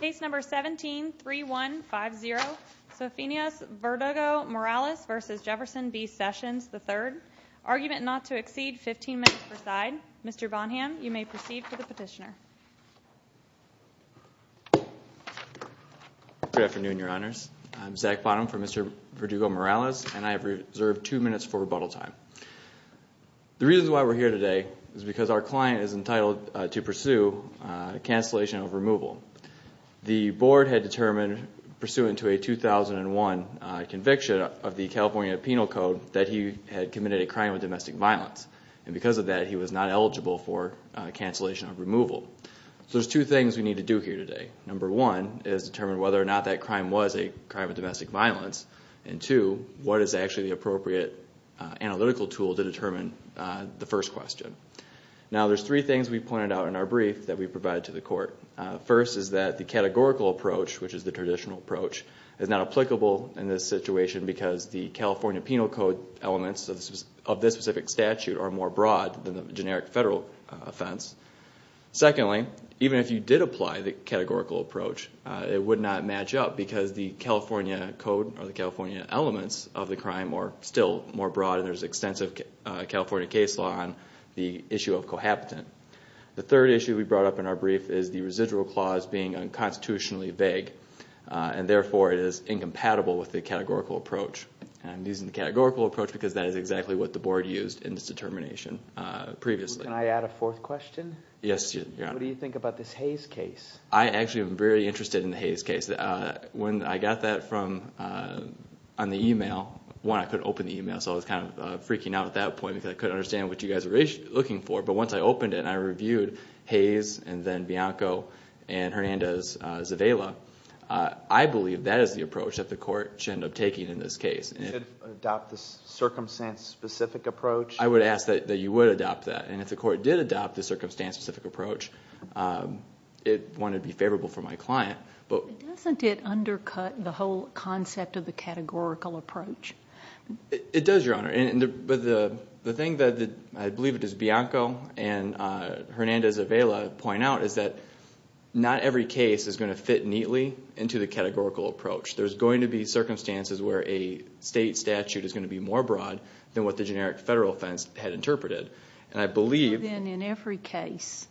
Case number 173150, Sofonias Verdugo-Morales v. Jefferson B Sessions III. Argument not to exceed 15 minutes per side. Mr. Bonham, you may proceed to the petitioner. Good afternoon, Your Honors. I'm Zach Bonham for Mr. Verdugo-Morales, and I have reserved two minutes for rebuttal time. The reason why we're here today is because our client is entitled to pursue cancellation of removal. The Board had determined, pursuant to a 2001 conviction of the California Penal Code, that he had committed a crime of domestic violence. And because of that, he was not eligible for cancellation of removal. So there's two things we need to do here today. Number one is determine whether or not that crime was a crime of domestic violence. And two, what is actually the appropriate analytical tool to determine the first question. Now, there's three things we pointed out in our brief that we provided to the Court. First is that the categorical approach, which is the traditional approach, is not applicable in this situation because the California Penal Code elements of this specific statute are more broad than the generic federal offense. Secondly, even if you did apply the categorical approach, it would not match up because the California Code or the California elements of the crime are still more broad and there's extensive California case law on the issue of cohabitant. The third issue we brought up in our brief is the residual clause being unconstitutionally vague, and therefore it is incompatible with the categorical approach. I'm using the categorical approach because that is exactly what the Board used in this determination previously. Can I add a fourth question? Yes, Your Honor. What do you think about this Hayes case? I actually am very interested in the Hayes case. When I got that on the email, one, I couldn't open the email, so I was kind of freaking out at that point because I couldn't understand what you guys were looking for. But once I opened it and I reviewed Hayes and then Bianco and Hernandez-Zavala, I believe that is the approach that the Court should end up taking in this case. You should adopt the circumstance-specific approach? I would ask that you would adopt that, and if the Court did adopt the circumstance-specific approach, it wouldn't be favorable for my client. Doesn't it undercut the whole concept of the categorical approach? It does, Your Honor, but the thing that I believe it is Bianco and Hernandez-Zavala point out is that not every case is going to fit neatly into the categorical approach. There's going to be circumstances where a state statute is going to be more broad than what the generic federal offense had interpreted, and I believe... So then in every case,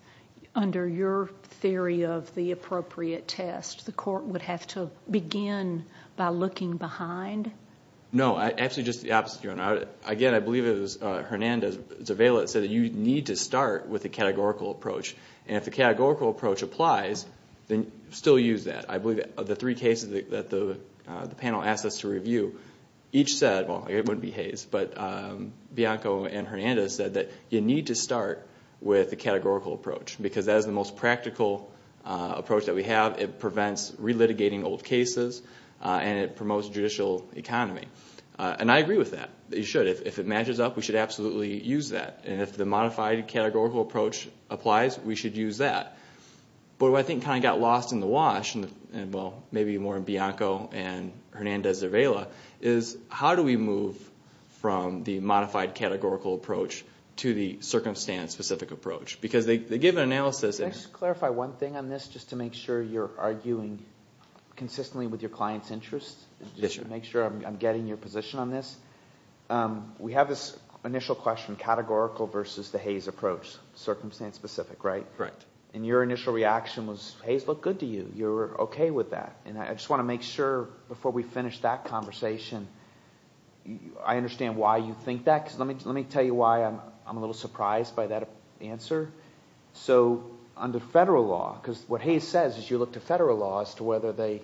under your theory of the appropriate test, the Court would have to begin by looking behind? No, actually just the opposite, Your Honor. Again, I believe it was Hernandez-Zavala that said that you need to start with the categorical approach, and if the categorical approach applies, then still use that. I believe of the three cases that the panel asked us to review, each said... Well, it wouldn't be Hayes, but Bianco and Hernandez said that you need to start with the categorical approach because that is the most practical approach that we have. It prevents relitigating old cases, and it promotes judicial economy, and I agree with that. You should. If it matches up, we should absolutely use that, and if the modified categorical approach applies, we should use that. But what I think kind of got lost in the wash, and well, maybe more in Bianco and Hernandez-Zavala, is how do we move from the modified categorical approach to the circumstance-specific approach? Because the given analysis... Can I just clarify one thing on this, just to make sure you're arguing consistently with your client's interests? Yes, Your Honor. Just to make sure I'm getting your position on this. We have this initial question, categorical versus the Hayes approach, circumstance-specific, right? And your initial reaction was, Hayes looked good to you. You were okay with that. And I just want to make sure, before we finish that conversation, I understand why you think that. Let me tell you why I'm a little surprised by that answer. So under federal law, because what Hayes says is you look to federal law as to whether they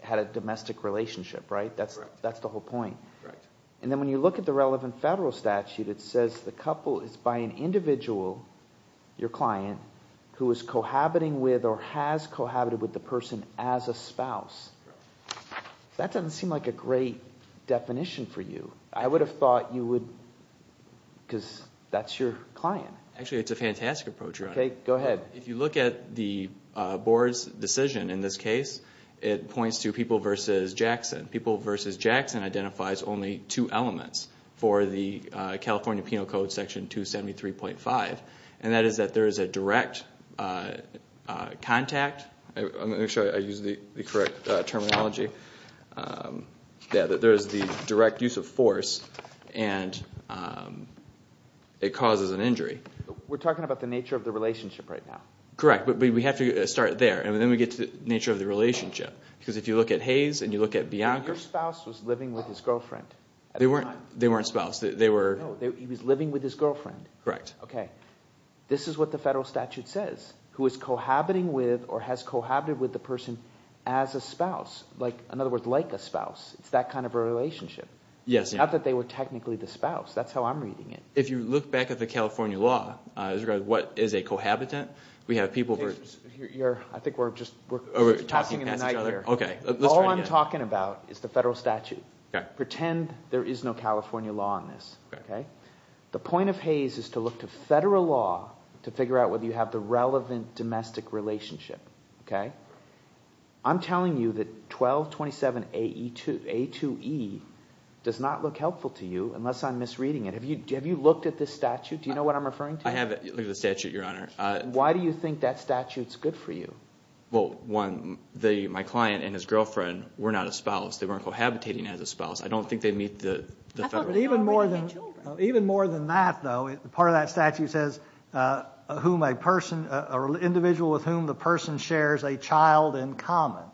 had a domestic relationship, right? That's the whole point. And then when you look at the relevant federal statute, it says the couple is by an individual, your client, who is cohabiting with or has cohabited with the person as a spouse. That doesn't seem like a great definition for you. I would have thought you would... because that's your client. Actually, it's a fantastic approach, Your Honor. Okay, go ahead. If you look at the board's decision in this case, it points to people versus Jackson. People versus Jackson identifies only two elements for the California Penal Code Section 273.5, and that is that there is a direct contact. Let me make sure I use the correct terminology. There is the direct use of force, and it causes an injury. We're talking about the nature of the relationship right now. Correct, but we have to start there, and then we get to the nature of the relationship. Because if you look at Hayes and you look at Bianca... Your spouse was living with his girlfriend at the time. They weren't spouse. No, he was living with his girlfriend. Correct. Okay. This is what the federal statute says, who is cohabiting with or has cohabited with the person as a spouse. In other words, like a spouse. It's that kind of a relationship. Yes. Not that they were technically the spouse. That's how I'm reading it. I think we're just talking in the night here. All I'm talking about is the federal statute. Pretend there is no California law on this. The point of Hayes is to look to federal law to figure out whether you have the relevant domestic relationship. I'm telling you that 1227A2E does not look helpful to you unless I'm misreading it. Have you looked at this statute? Do you know what I'm referring to? I have looked at the statute, Your Honor. Why do you think that statute is good for you? Well, one, my client and his girlfriend were not a spouse. They weren't cohabiting as a spouse. I don't think they meet the federal standards. Even more than that, though, part of that statute says individual with whom the person shares a child in common.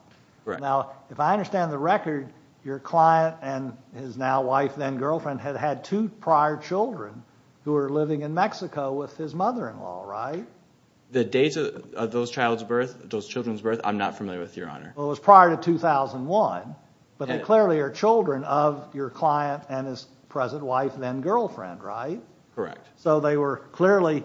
Correct. Now, if I understand the record, your client and his now wife, then girlfriend, had had two prior children who were living in Mexico with his mother-in-law, right? The dates of those children's birth I'm not familiar with, Your Honor. Well, it was prior to 2001, but they clearly are children of your client and his present wife, then girlfriend, right? Correct. So they were clearly,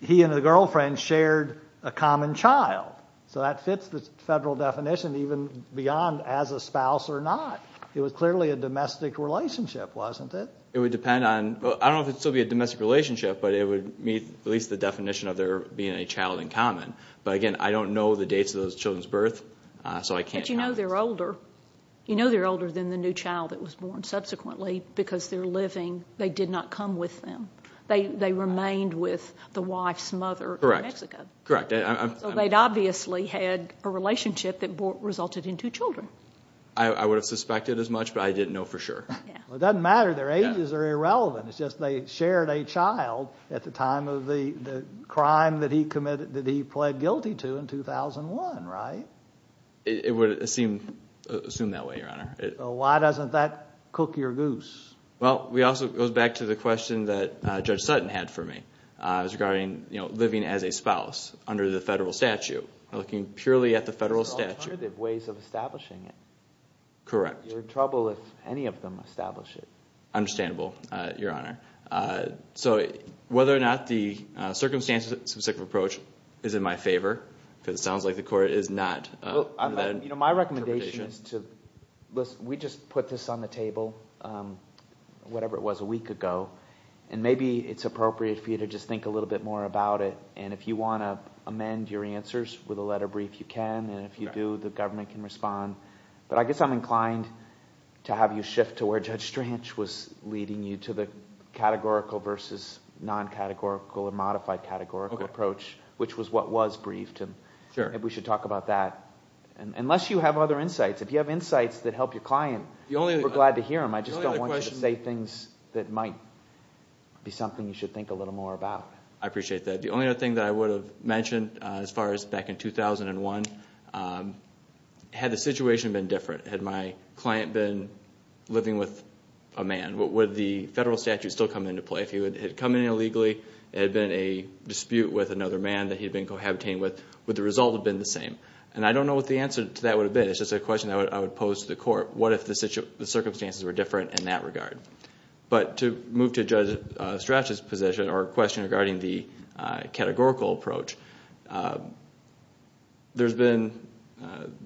he and the girlfriend shared a common child. So that fits the federal definition even beyond as a spouse or not. It was clearly a domestic relationship, wasn't it? It would depend on, I don't know if it would still be a domestic relationship, but it would meet at least the definition of there being a child in common. But, again, I don't know the dates of those children's birth, so I can't comment. But you know they're older. You know they're older than the new child that was born. Subsequently, because they're living, they did not come with them. They remained with the wife's mother in Mexico. Correct. So they'd obviously had a relationship that resulted in two children. I would have suspected as much, but I didn't know for sure. It doesn't matter. Their ages are irrelevant. It's just they shared a child at the time of the crime that he pled guilty to in 2001, right? It would assume that way, Your Honor. So why doesn't that cook your goose? Well, it also goes back to the question that Judge Sutton had for me. It was regarding living as a spouse under the federal statute, looking purely at the federal statute. There are alternative ways of establishing it. Correct. You're in trouble if any of them establish it. Understandable, Your Honor. So whether or not the circumstances-specific approach is in my favor, because it sounds like the court is not. My recommendation is to – we just put this on the table, whatever it was, a week ago. And maybe it's appropriate for you to just think a little bit more about it. And if you want to amend your answers with a letter brief, you can. And if you do, the government can respond. But I guess I'm inclined to have you shift to where Judge Stranch was leading you to the categorical versus non-categorical or modified categorical approach, which was what was briefed. Maybe we should talk about that. Unless you have other insights. If you have insights that help your client, we're glad to hear them. I just don't want you to say things that might be something you should think a little more about. I appreciate that. The only other thing that I would have mentioned, as far as back in 2001, had the situation been different? Had my client been living with a man? Would the federal statute still come into play? If he had come in illegally and there had been a dispute with another man that he had been cohabitating with, would the result have been the same? And I don't know what the answer to that would have been. It's just a question that I would pose to the court. What if the circumstances were different in that regard? To move to Judge Stranch's position or question regarding the categorical approach, there's been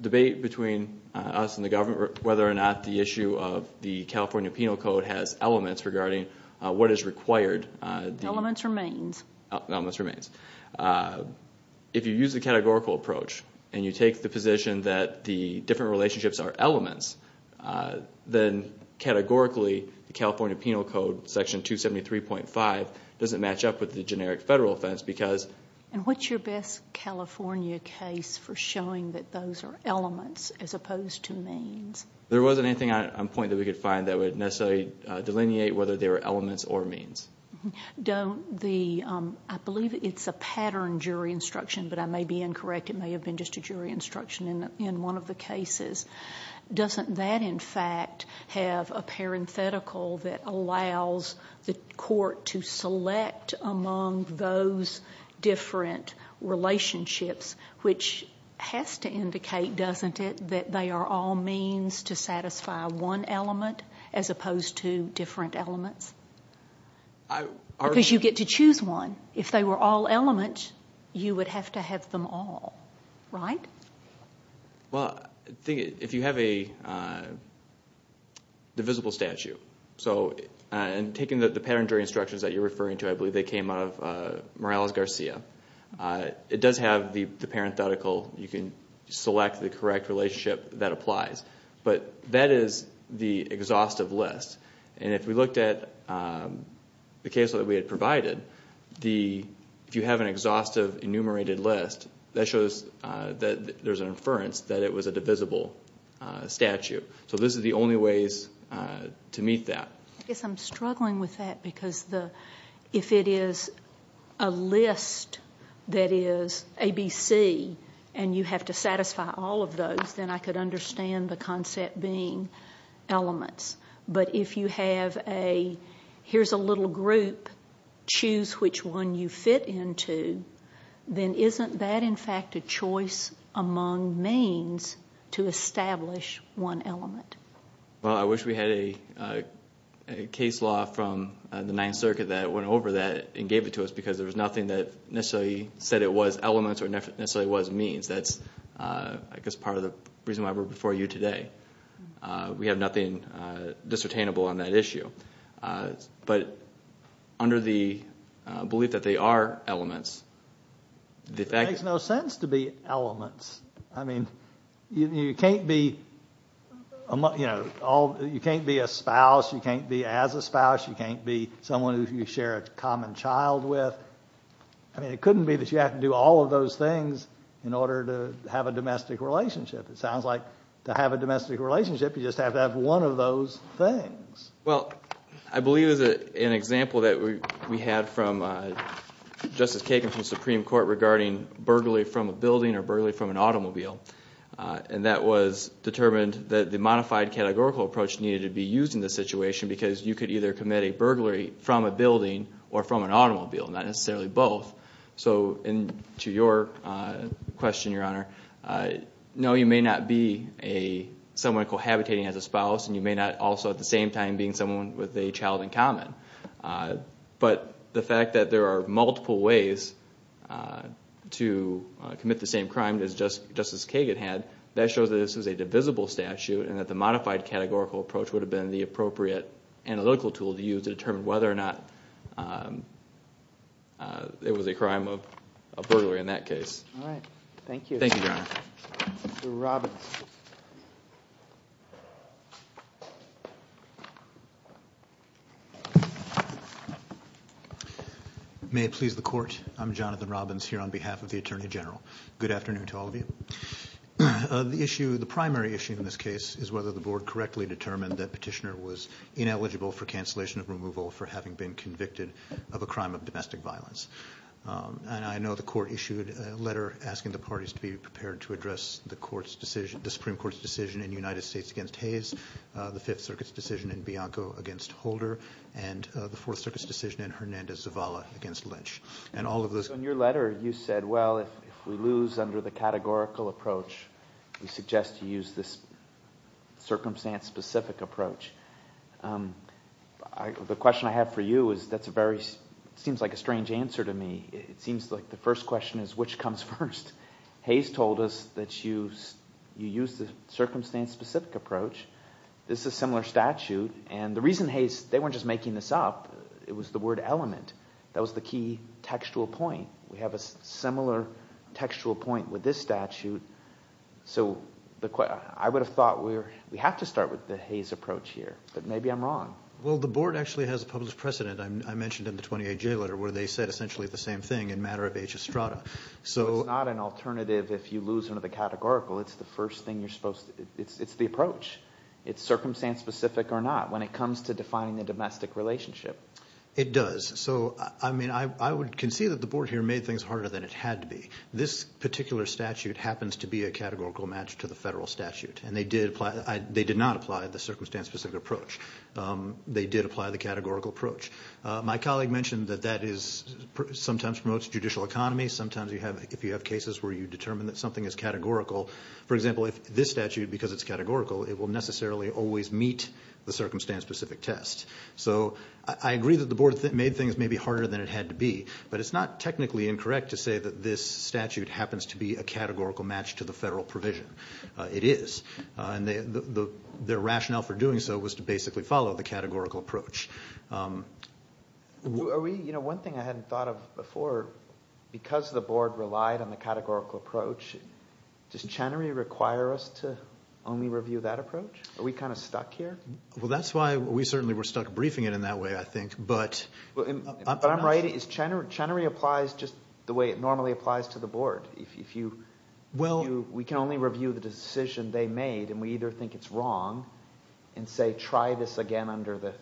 debate between us and the government whether or not the issue of the California Penal Code has elements regarding what is required. The elements remains. The elements remains. If you use the categorical approach and you take the position that the different relationships are elements, then categorically the California Penal Code, Section 273.5, doesn't match up with the generic federal offense. What's your best California case for showing that those are elements as opposed to means? There wasn't anything on point that we could find that would necessarily delineate whether they were elements or means. I believe it's a pattern jury instruction, but I may be incorrect. It may have been just a jury instruction in one of the cases. Doesn't that, in fact, have a parenthetical that allows the court to select among those different relationships, which has to indicate, doesn't it, that they are all means to satisfy one element as opposed to different elements? Because you get to choose one. If they were all elements, you would have to have them all, right? If you have a divisible statute, and taking the pattern jury instructions that you're referring to, I believe they came out of Morales-Garcia, it does have the parenthetical. You can select the correct relationship that applies, but that is the exhaustive list. If we looked at the case that we had provided, if you have an exhaustive enumerated list, that shows that there's an inference that it was a divisible statute. This is the only way to meet that. I guess I'm struggling with that because if it is a list that is ABC and you have to satisfy all of those, then I could understand the concept being elements. But if you have a, here's a little group, choose which one you fit into, then isn't that, in fact, a choice among means to establish one element? Well, I wish we had a case law from the Ninth Circuit that went over that and gave it to us because there was nothing that necessarily said it was elements or necessarily was means. That's, I guess, part of the reason why we're before you today. We have nothing discernible on that issue. But under the belief that they are elements, the fact that... It makes no sense to be elements. I mean, you can't be a spouse, you can't be as a spouse, you can't be someone who you share a common child with. I mean, it couldn't be that you have to do all of those things in order to have a domestic relationship. It sounds like to have a domestic relationship, you just have to have one of those things. Well, I believe there's an example that we had from Justice Kagan from the Supreme Court regarding burglary from a building or burglary from an automobile. And that was determined that the modified categorical approach needed to be used in this situation because you could either commit a burglary from a building or from an automobile, not necessarily both. So to your question, Your Honor, no, you may not be someone cohabitating as a spouse and you may not also at the same time be someone with a child in common. But the fact that there are multiple ways to commit the same crime as Justice Kagan had, that shows that this is a divisible statute and that the modified categorical approach would have been the appropriate analytical tool to use to determine whether or not it was a crime of burglary in that case. All right. Thank you. Thank you, Your Honor. Mr. Robbins. May it please the Court, I'm Jonathan Robbins here on behalf of the Attorney General. Good afternoon to all of you. The primary issue in this case is whether the Board correctly determined that Petitioner was ineligible for cancellation of removal for having been convicted of a crime of domestic violence. And I know the Court issued a letter asking the parties to be prepared to address the Supreme Court's decision in the United States against Hayes, the Fifth Circuit's decision in Bianco against Holder, and the Fourth Circuit's decision in Hernandez-Zavala against Lynch. In your letter, you said, well, if we lose under the categorical approach, we suggest you use this circumstance-specific approach. The question I have for you is that's a very – it seems like a strange answer to me. It seems like the first question is which comes first. Hayes told us that you used the circumstance-specific approach. This is a similar statute. And the reason Hayes – they weren't just making this up. It was the word element. That was the key textual point. We have a similar textual point with this statute. So I would have thought we have to start with the Hayes approach here. But maybe I'm wrong. Well, the Board actually has a public precedent. I mentioned in the 28-J letter where they said essentially the same thing in matter of H. Estrada. So it's not an alternative if you lose under the categorical. It's the first thing you're supposed – it's the approach. It's circumstance-specific or not when it comes to defining the domestic relationship. It does. So, I mean, I would concede that the Board here made things harder than it had to be. This particular statute happens to be a categorical match to the federal statute, and they did not apply the circumstance-specific approach. They did apply the categorical approach. My colleague mentioned that that sometimes promotes judicial economy. Sometimes if you have cases where you determine that something is categorical, for example, if this statute, because it's categorical, it will necessarily always meet the circumstance-specific test. So I agree that the Board made things maybe harder than it had to be, but it's not technically incorrect to say that this statute happens to be a categorical match to the federal provision. It is. And their rationale for doing so was to basically follow the categorical approach. Are we – you know, one thing I hadn't thought of before, because the Board relied on the categorical approach, does Chenery require us to only review that approach? Are we kind of stuck here? Well, that's why we certainly were stuck briefing it in that way, I think. But I'm not sure. But I'm right. Chenery applies just the way it normally applies to the Board. If you – we can only review the decision they made, and we either think it's wrong and say try this again under the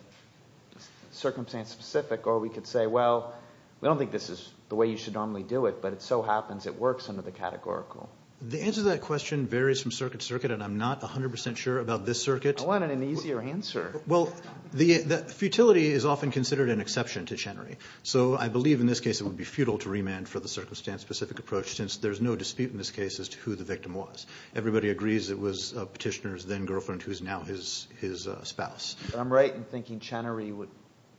circumstance-specific, or we could say, well, we don't think this is the way you should normally do it, but it so happens it works under the categorical. The answer to that question varies from circuit to circuit, and I'm not 100% sure about this circuit. I wanted an easier answer. Well, the futility is often considered an exception to Chenery. So I believe in this case it would be futile to remand for the circumstance-specific approach since there's no dispute in this case as to who the victim was. Everybody agrees it was Petitioner's then-girlfriend who is now his spouse. I'm right in thinking Chenery would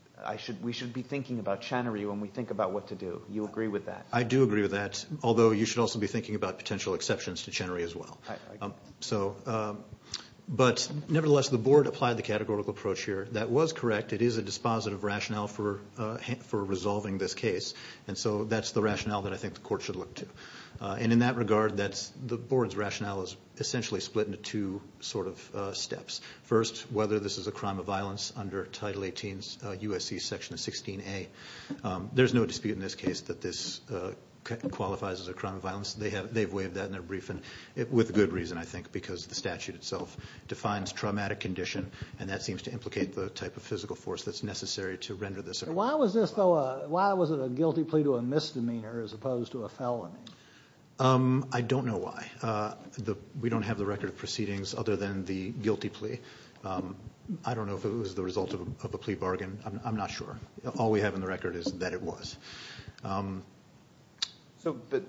– we should be thinking about Chenery when we think about what to do. You agree with that? I do agree with that, although you should also be thinking about potential exceptions to Chenery as well. But nevertheless, the board applied the categorical approach here. That was correct. It is a dispositive rationale for resolving this case, and so that's the rationale that I think the court should look to. And in that regard, the board's rationale is essentially split into two sort of steps. First, whether this is a crime of violence under Title 18's USC Section 16A. There's no dispute in this case that this qualifies as a crime of violence. They've waived that in their briefing with good reason, I think, because the statute itself defines traumatic condition, and that seems to implicate the type of physical force that's necessary to render this a crime. Why was it a guilty plea to a misdemeanor as opposed to a felony? I don't know why. We don't have the record of proceedings other than the guilty plea. I don't know if it was the result of a plea bargain. I'm not sure. All we have in the record is that it was. So the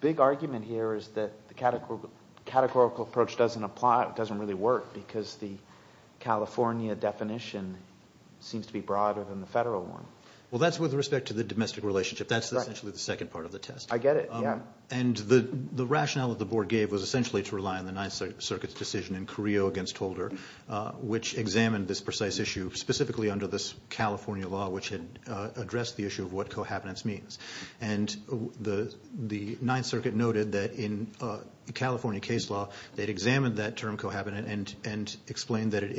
big argument here is that the categorical approach doesn't really work because the California definition seems to be broader than the federal one. Well, that's with respect to the domestic relationship. That's essentially the second part of the test. I get it, yeah. And the rationale that the board gave was essentially to rely on the Ninth Circuit's decision in Carrillo against Holder, which examined this precise issue, specifically under this California law, which had addressed the issue of what cohabitance means. And the Ninth Circuit noted that in California case law, they'd examined that term cohabitant and explained that it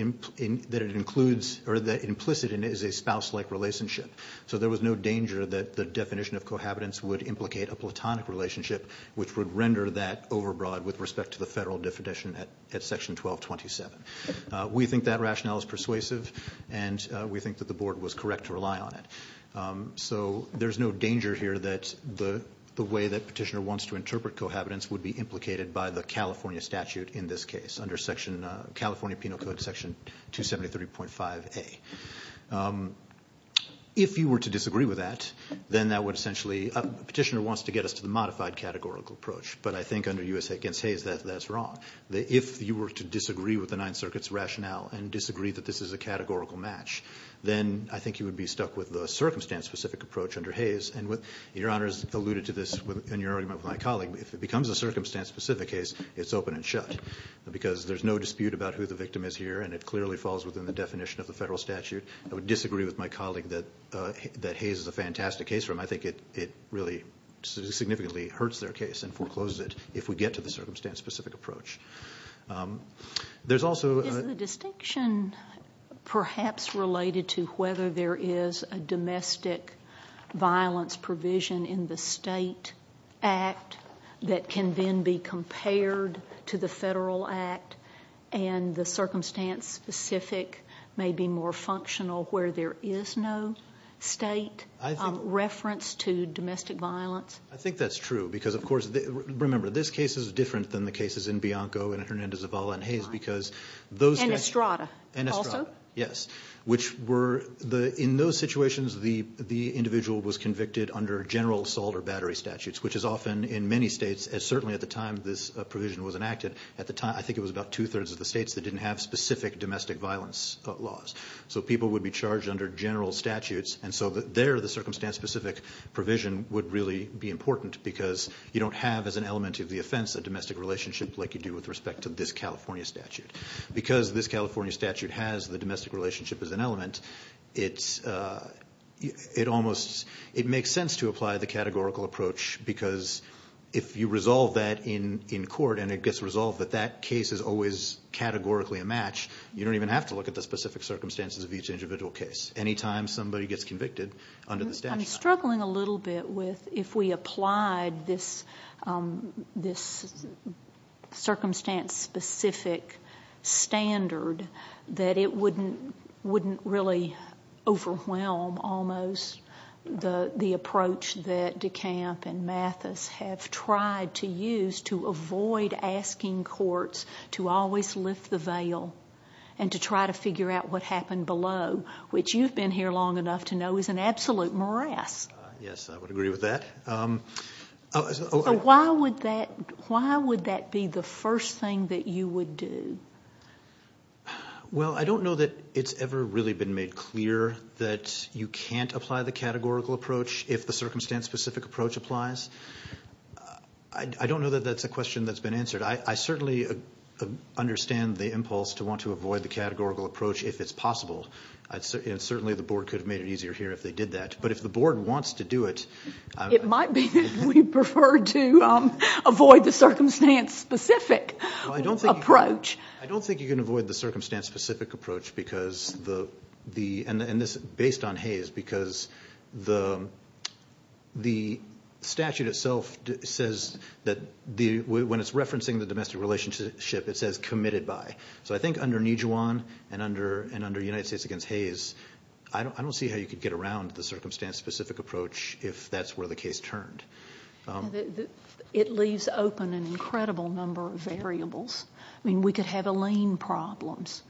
includes or that implicit in it is a spouse-like relationship. So there was no danger that the definition of cohabitance would implicate a platonic relationship, which would render that overbroad with respect to the federal definition at Section 1227. We think that rationale is persuasive, and we think that the board was correct to rely on it. So there's no danger here that the way that Petitioner wants to interpret cohabitance would be implicated by the California statute in this case under California Penal Code Section 273.5a. If you were to disagree with that, then that would essentially – Petitioner wants to get us to the modified categorical approach, but I think under U.S.A. against Hayes, that's wrong. If you were to disagree with the Ninth Circuit's rationale and disagree that this is a categorical match, then I think you would be stuck with the circumstance-specific approach under Hayes. And Your Honor has alluded to this in your argument with my colleague. If it becomes a circumstance-specific case, it's open and shut because there's no dispute about who the victim is here, and it clearly falls within the definition of the federal statute. I would disagree with my colleague that Hayes is a fantastic case. I think it really significantly hurts their case and forecloses it if we get to the circumstance-specific approach. There's also – Is the distinction perhaps related to whether there is a domestic violence provision in the state act that can then be compared to the federal act and the circumstance-specific may be more functional where there is no state reference to domestic violence? I think that's true because, of course, remember, this case is different than the cases in Bianco and Hernandez-Zavala and Hayes because those – And Estrada also? Yes, which were – in those situations, the individual was convicted under general assault or battery statutes, which is often in many states, and certainly at the time this provision was enacted, I think it was about two-thirds of the states that didn't have specific domestic violence laws. So people would be charged under general statutes, and so there the circumstance-specific provision would really be important because you don't have as an element of the offense a domestic relationship like you do with respect to this California statute. Because this California statute has the domestic relationship as an element, it almost – it makes sense to apply the categorical approach because if you resolve that in court and it gets resolved that that case is always categorically a match, you don't even have to look at the specific circumstances of each individual case. Anytime somebody gets convicted under the statute. I'm struggling a little bit with if we applied this circumstance-specific standard that it wouldn't really overwhelm almost the approach that DeCamp and Mathis have tried to use to avoid asking courts to always lift the veil and to try to figure out what happened below, which you've been here long enough to know is an absolute morass. Yes, I would agree with that. So why would that be the first thing that you would do? Well, I don't know that it's ever really been made clear that you can't apply the categorical approach if the circumstance-specific approach applies. I don't know that that's a question that's been answered. I certainly understand the impulse to want to avoid the categorical approach if it's possible, and certainly the board could have made it easier here if they did that. But if the board wants to do it. It might be that we prefer to avoid the circumstance-specific approach. I don't think you can avoid the circumstance-specific approach based on Hayes because the statute itself says that when it's referencing the domestic relationship, it says committed by. So I think under Nijuan and under United States against Hayes, I don't see how you could get around the circumstance-specific approach if that's where the case turned. It leaves open an incredible number of variables. I mean, we could have a lien problems.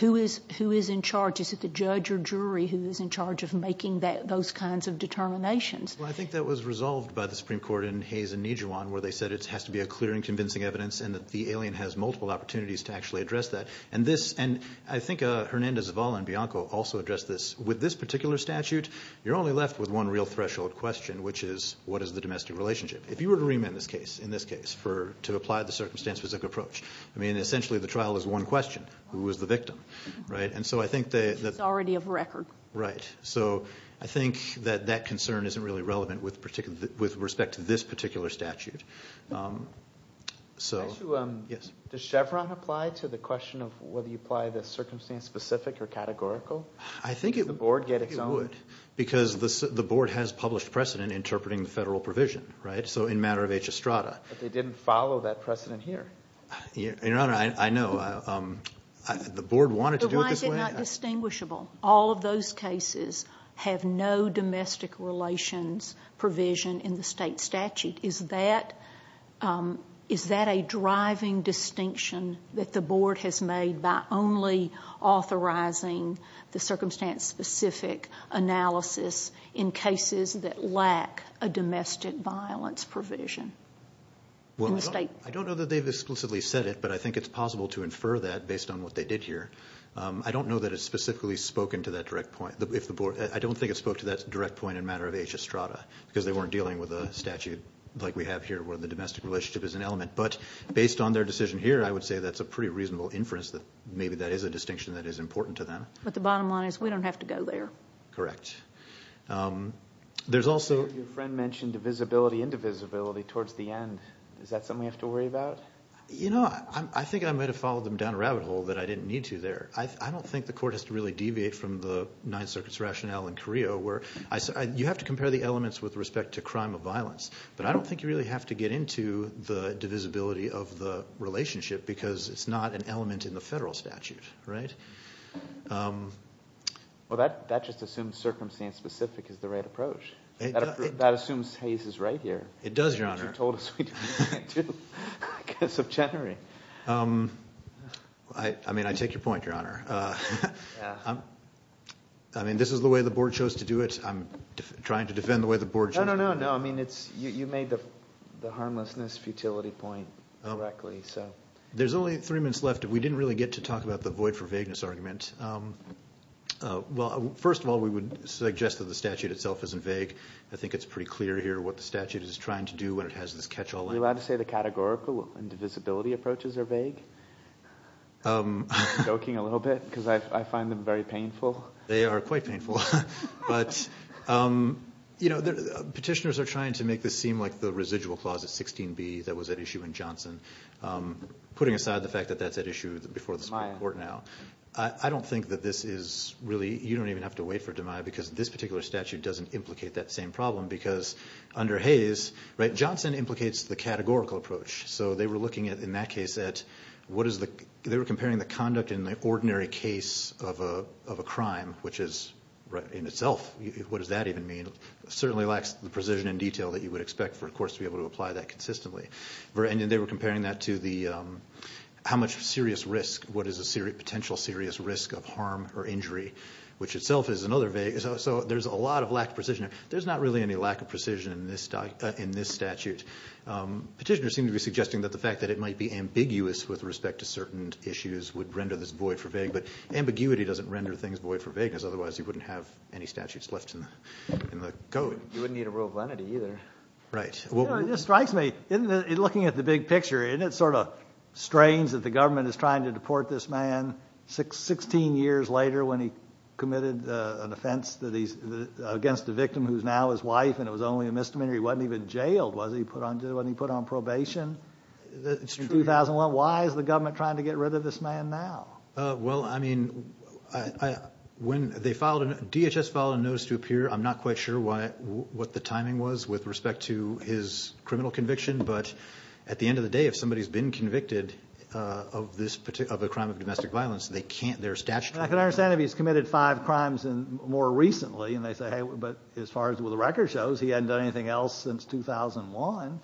Who is in charge? Is it the judge or jury who is in charge of making those kinds of determinations? Well, I think that was resolved by the Supreme Court in Hayes and Nijuan where they said it has to be a clear and convincing evidence and that the alien has multiple opportunities to actually address that. I think Hernandez-Zavala and Bianco also addressed this. With this particular statute, you're only left with one real threshold question, which is what is the domestic relationship? If you were to remand this case, in this case, to apply the circumstance-specific approach, I mean, essentially the trial is one question. Who is the victim? It's already of record. Right. So I think that that concern isn't really relevant with respect to this particular statute. So, yes. Does Chevron apply to the question of whether you apply the circumstance-specific or categorical? I think it would. Because the board has published precedent interpreting the federal provision, right? So in matter of H. Estrada. But they didn't follow that precedent here. Your Honor, I know. The board wanted to do it this way. But why is it not distinguishable? All of those cases have no domestic relations provision in the state statute. Is that a driving distinction that the board has made by only authorizing the circumstance-specific analysis in cases that lack a domestic violence provision in the state? Well, I don't know that they've exclusively said it, but I think it's possible to infer that based on what they did here. I don't know that it's specifically spoken to that direct point. I don't think it's spoken to that direct point in matter of H. Estrada because they weren't dealing with a statute like we have here where the domestic relationship is an element. But based on their decision here, I would say that's a pretty reasonable inference that maybe that is a distinction that is important to them. But the bottom line is we don't have to go there. Correct. Your friend mentioned divisibility, indivisibility towards the end. Is that something we have to worry about? You know, I think I might have followed them down a rabbit hole that I didn't need to there. I don't think the court has to really deviate from the Ninth Circuit's rationale in Carrillo where you have to compare the elements with respect to crime of violence, but I don't think you really have to get into the divisibility of the relationship because it's not an element in the federal statute, right? Well, that just assumes circumstance-specific is the right approach. That assumes Hayes is right here. It does, Your Honor. Which you told us we didn't have to because of Chenery. I mean, I take your point, Your Honor. I mean, this is the way the Board chose to do it. I'm trying to defend the way the Board chose to do it. No, no, no. I mean, you made the harmlessness futility point correctly. There's only three minutes left. We didn't really get to talk about the void for vagueness argument. Well, first of all, we would suggest that the statute itself isn't vague. I think it's pretty clear here what the statute is trying to do when it has this catch-all line. Are you allowed to say the categorical indivisibility approaches are vague? I'm choking a little bit because I find them very painful. They are quite painful. But, you know, petitioners are trying to make this seem like the residual clause at 16B that was at issue in Johnson, putting aside the fact that that's at issue before the Supreme Court now. I don't think that this is really – you don't even have to wait for it to arrive because this particular statute doesn't implicate that same problem because under Hayes, right, Johnson implicates the categorical approach. So they were looking at, in that case, at what is the – they were comparing the conduct in the ordinary case of a crime, which is, in itself, what does that even mean? It certainly lacks the precision and detail that you would expect for a course to be able to apply that consistently. And they were comparing that to the – how much serious risk, what is the potential serious risk of harm or injury, which itself is another vague – so there's a lot of lack of precision. There's not really any lack of precision in this statute. Petitioners seem to be suggesting that the fact that it might be ambiguous with respect to certain issues would render this void for vagueness. But ambiguity doesn't render things void for vagueness. Otherwise, you wouldn't have any statutes left in the code. You wouldn't need a rule of lenity either. Right. You know, it just strikes me, looking at the big picture, isn't it sort of strange that the government is trying to deport this man 16 years later when he committed an offense against a victim who is now his wife and it was only a misdemeanor? He wasn't even jailed, was he? Wasn't he put on probation in 2001? Why is the government trying to get rid of this man now? Well, I mean, when they filed – DHS filed a notice to appear. I'm not quite sure what the timing was with respect to his criminal conviction. But at the end of the day, if somebody's been convicted of a crime of domestic violence, they can't – their statute – I can understand if he's committed five crimes more recently and they say, but as far as the record shows, he hadn't done anything else since 2001.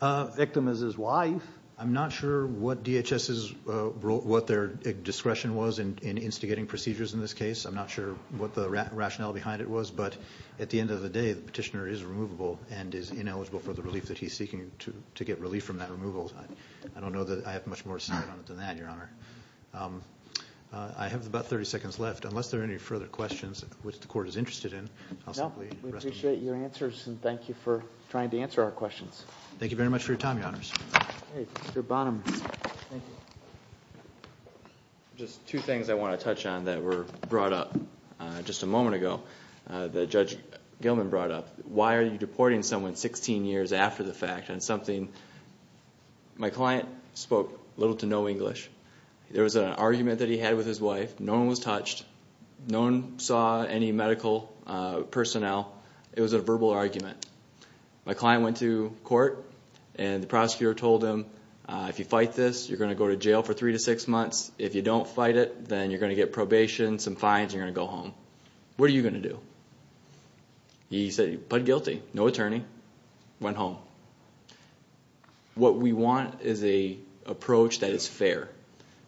The victim is his wife. I'm not sure what DHS's – what their discretion was in instigating procedures in this case. I'm not sure what the rationale behind it was. But at the end of the day, the petitioner is removable and is ineligible for the relief that he's seeking to get relief from that removal. I don't know that I have much more to say on it than that, Your Honor. I have about 30 seconds left. Unless there are any further questions which the Court is interested in, I'll simply rest. No, we appreciate your answers and thank you for trying to answer our questions. Thank you very much for your time, Your Honors. Okay, Mr. Bonham. Just two things I want to touch on that were brought up just a moment ago that Judge Gilman brought up. Why are you deporting someone 16 years after the fact on something – my client spoke little to no English. There was an argument that he had with his wife. No one was touched. No one saw any medical personnel. It was a verbal argument. My client went to court, and the prosecutor told him, if you fight this, you're going to go to jail for three to six months. If you don't fight it, then you're going to get probation, some fines, and you're going to go home. What are you going to do? He said he pled guilty, no attorney, went home. What we want is an approach that is fair.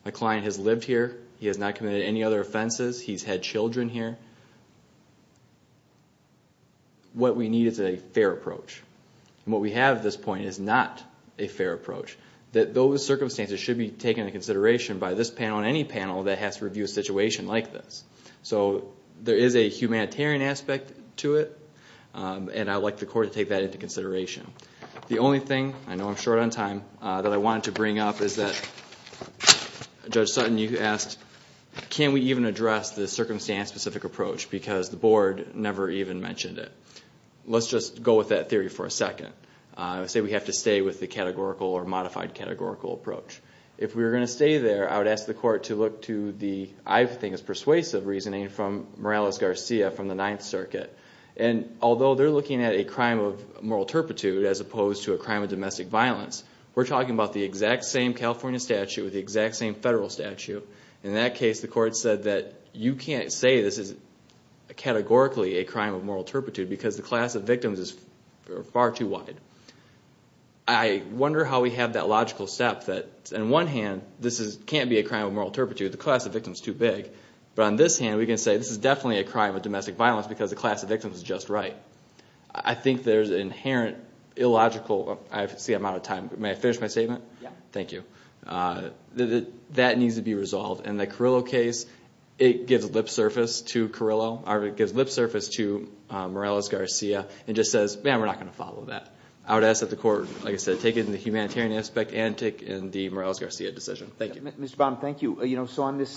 My client has lived here. He has not committed any other offenses. He's had children here. What we need is a fair approach. What we have at this point is not a fair approach. Those circumstances should be taken into consideration by this panel and any panel that has to review a situation like this. There is a humanitarian aspect to it, and I would like the court to take that into consideration. The only thing – I know I'm short on time – that I wanted to bring up is that Judge Sutton, you asked, can we even address the circumstance-specific approach because the board never even mentioned it. Let's just go with that theory for a second. Say we have to stay with the categorical or modified categorical approach. If we were going to stay there, I would ask the court to look to the – this is a reasonable reasoning from Morales-Garcia from the Ninth Circuit. Although they're looking at a crime of moral turpitude as opposed to a crime of domestic violence, we're talking about the exact same California statute with the exact same federal statute. In that case, the court said that you can't say this is categorically a crime of moral turpitude because the class of victims is far too wide. I wonder how we have that logical step that, on one hand, this can't be a crime of moral turpitude. The class of victims is too big. But on this hand, we can say this is definitely a crime of domestic violence because the class of victims is just right. I think there's an inherent illogical – I see I'm out of time. May I finish my statement? Yeah. Thank you. That needs to be resolved. In the Carrillo case, it gives lip surface to Carrillo or it gives lip surface to Morales-Garcia and just says, man, we're not going to follow that. I would ask that the court, like I said, take it in the humanitarian aspect and take in the Morales-Garcia decision. Thank you. Mr. Baum, thank you. On this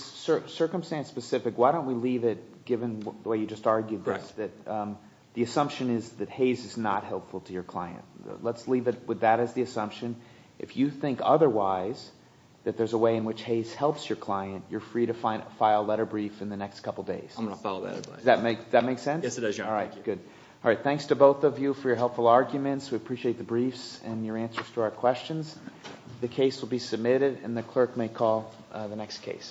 circumstance-specific, why don't we leave it, given the way you just argued this, that the assumption is that Hays is not helpful to your client. Let's leave it with that as the assumption. If you think otherwise, that there's a way in which Hays helps your client, you're free to file a letter brief in the next couple days. I'm going to follow that advice. Does that make sense? Yes, it does, Your Honor. All right, good. Thanks to both of you for your helpful arguments. We appreciate the briefs and your answers to our questions. The case will be submitted, and the clerk may call the next case.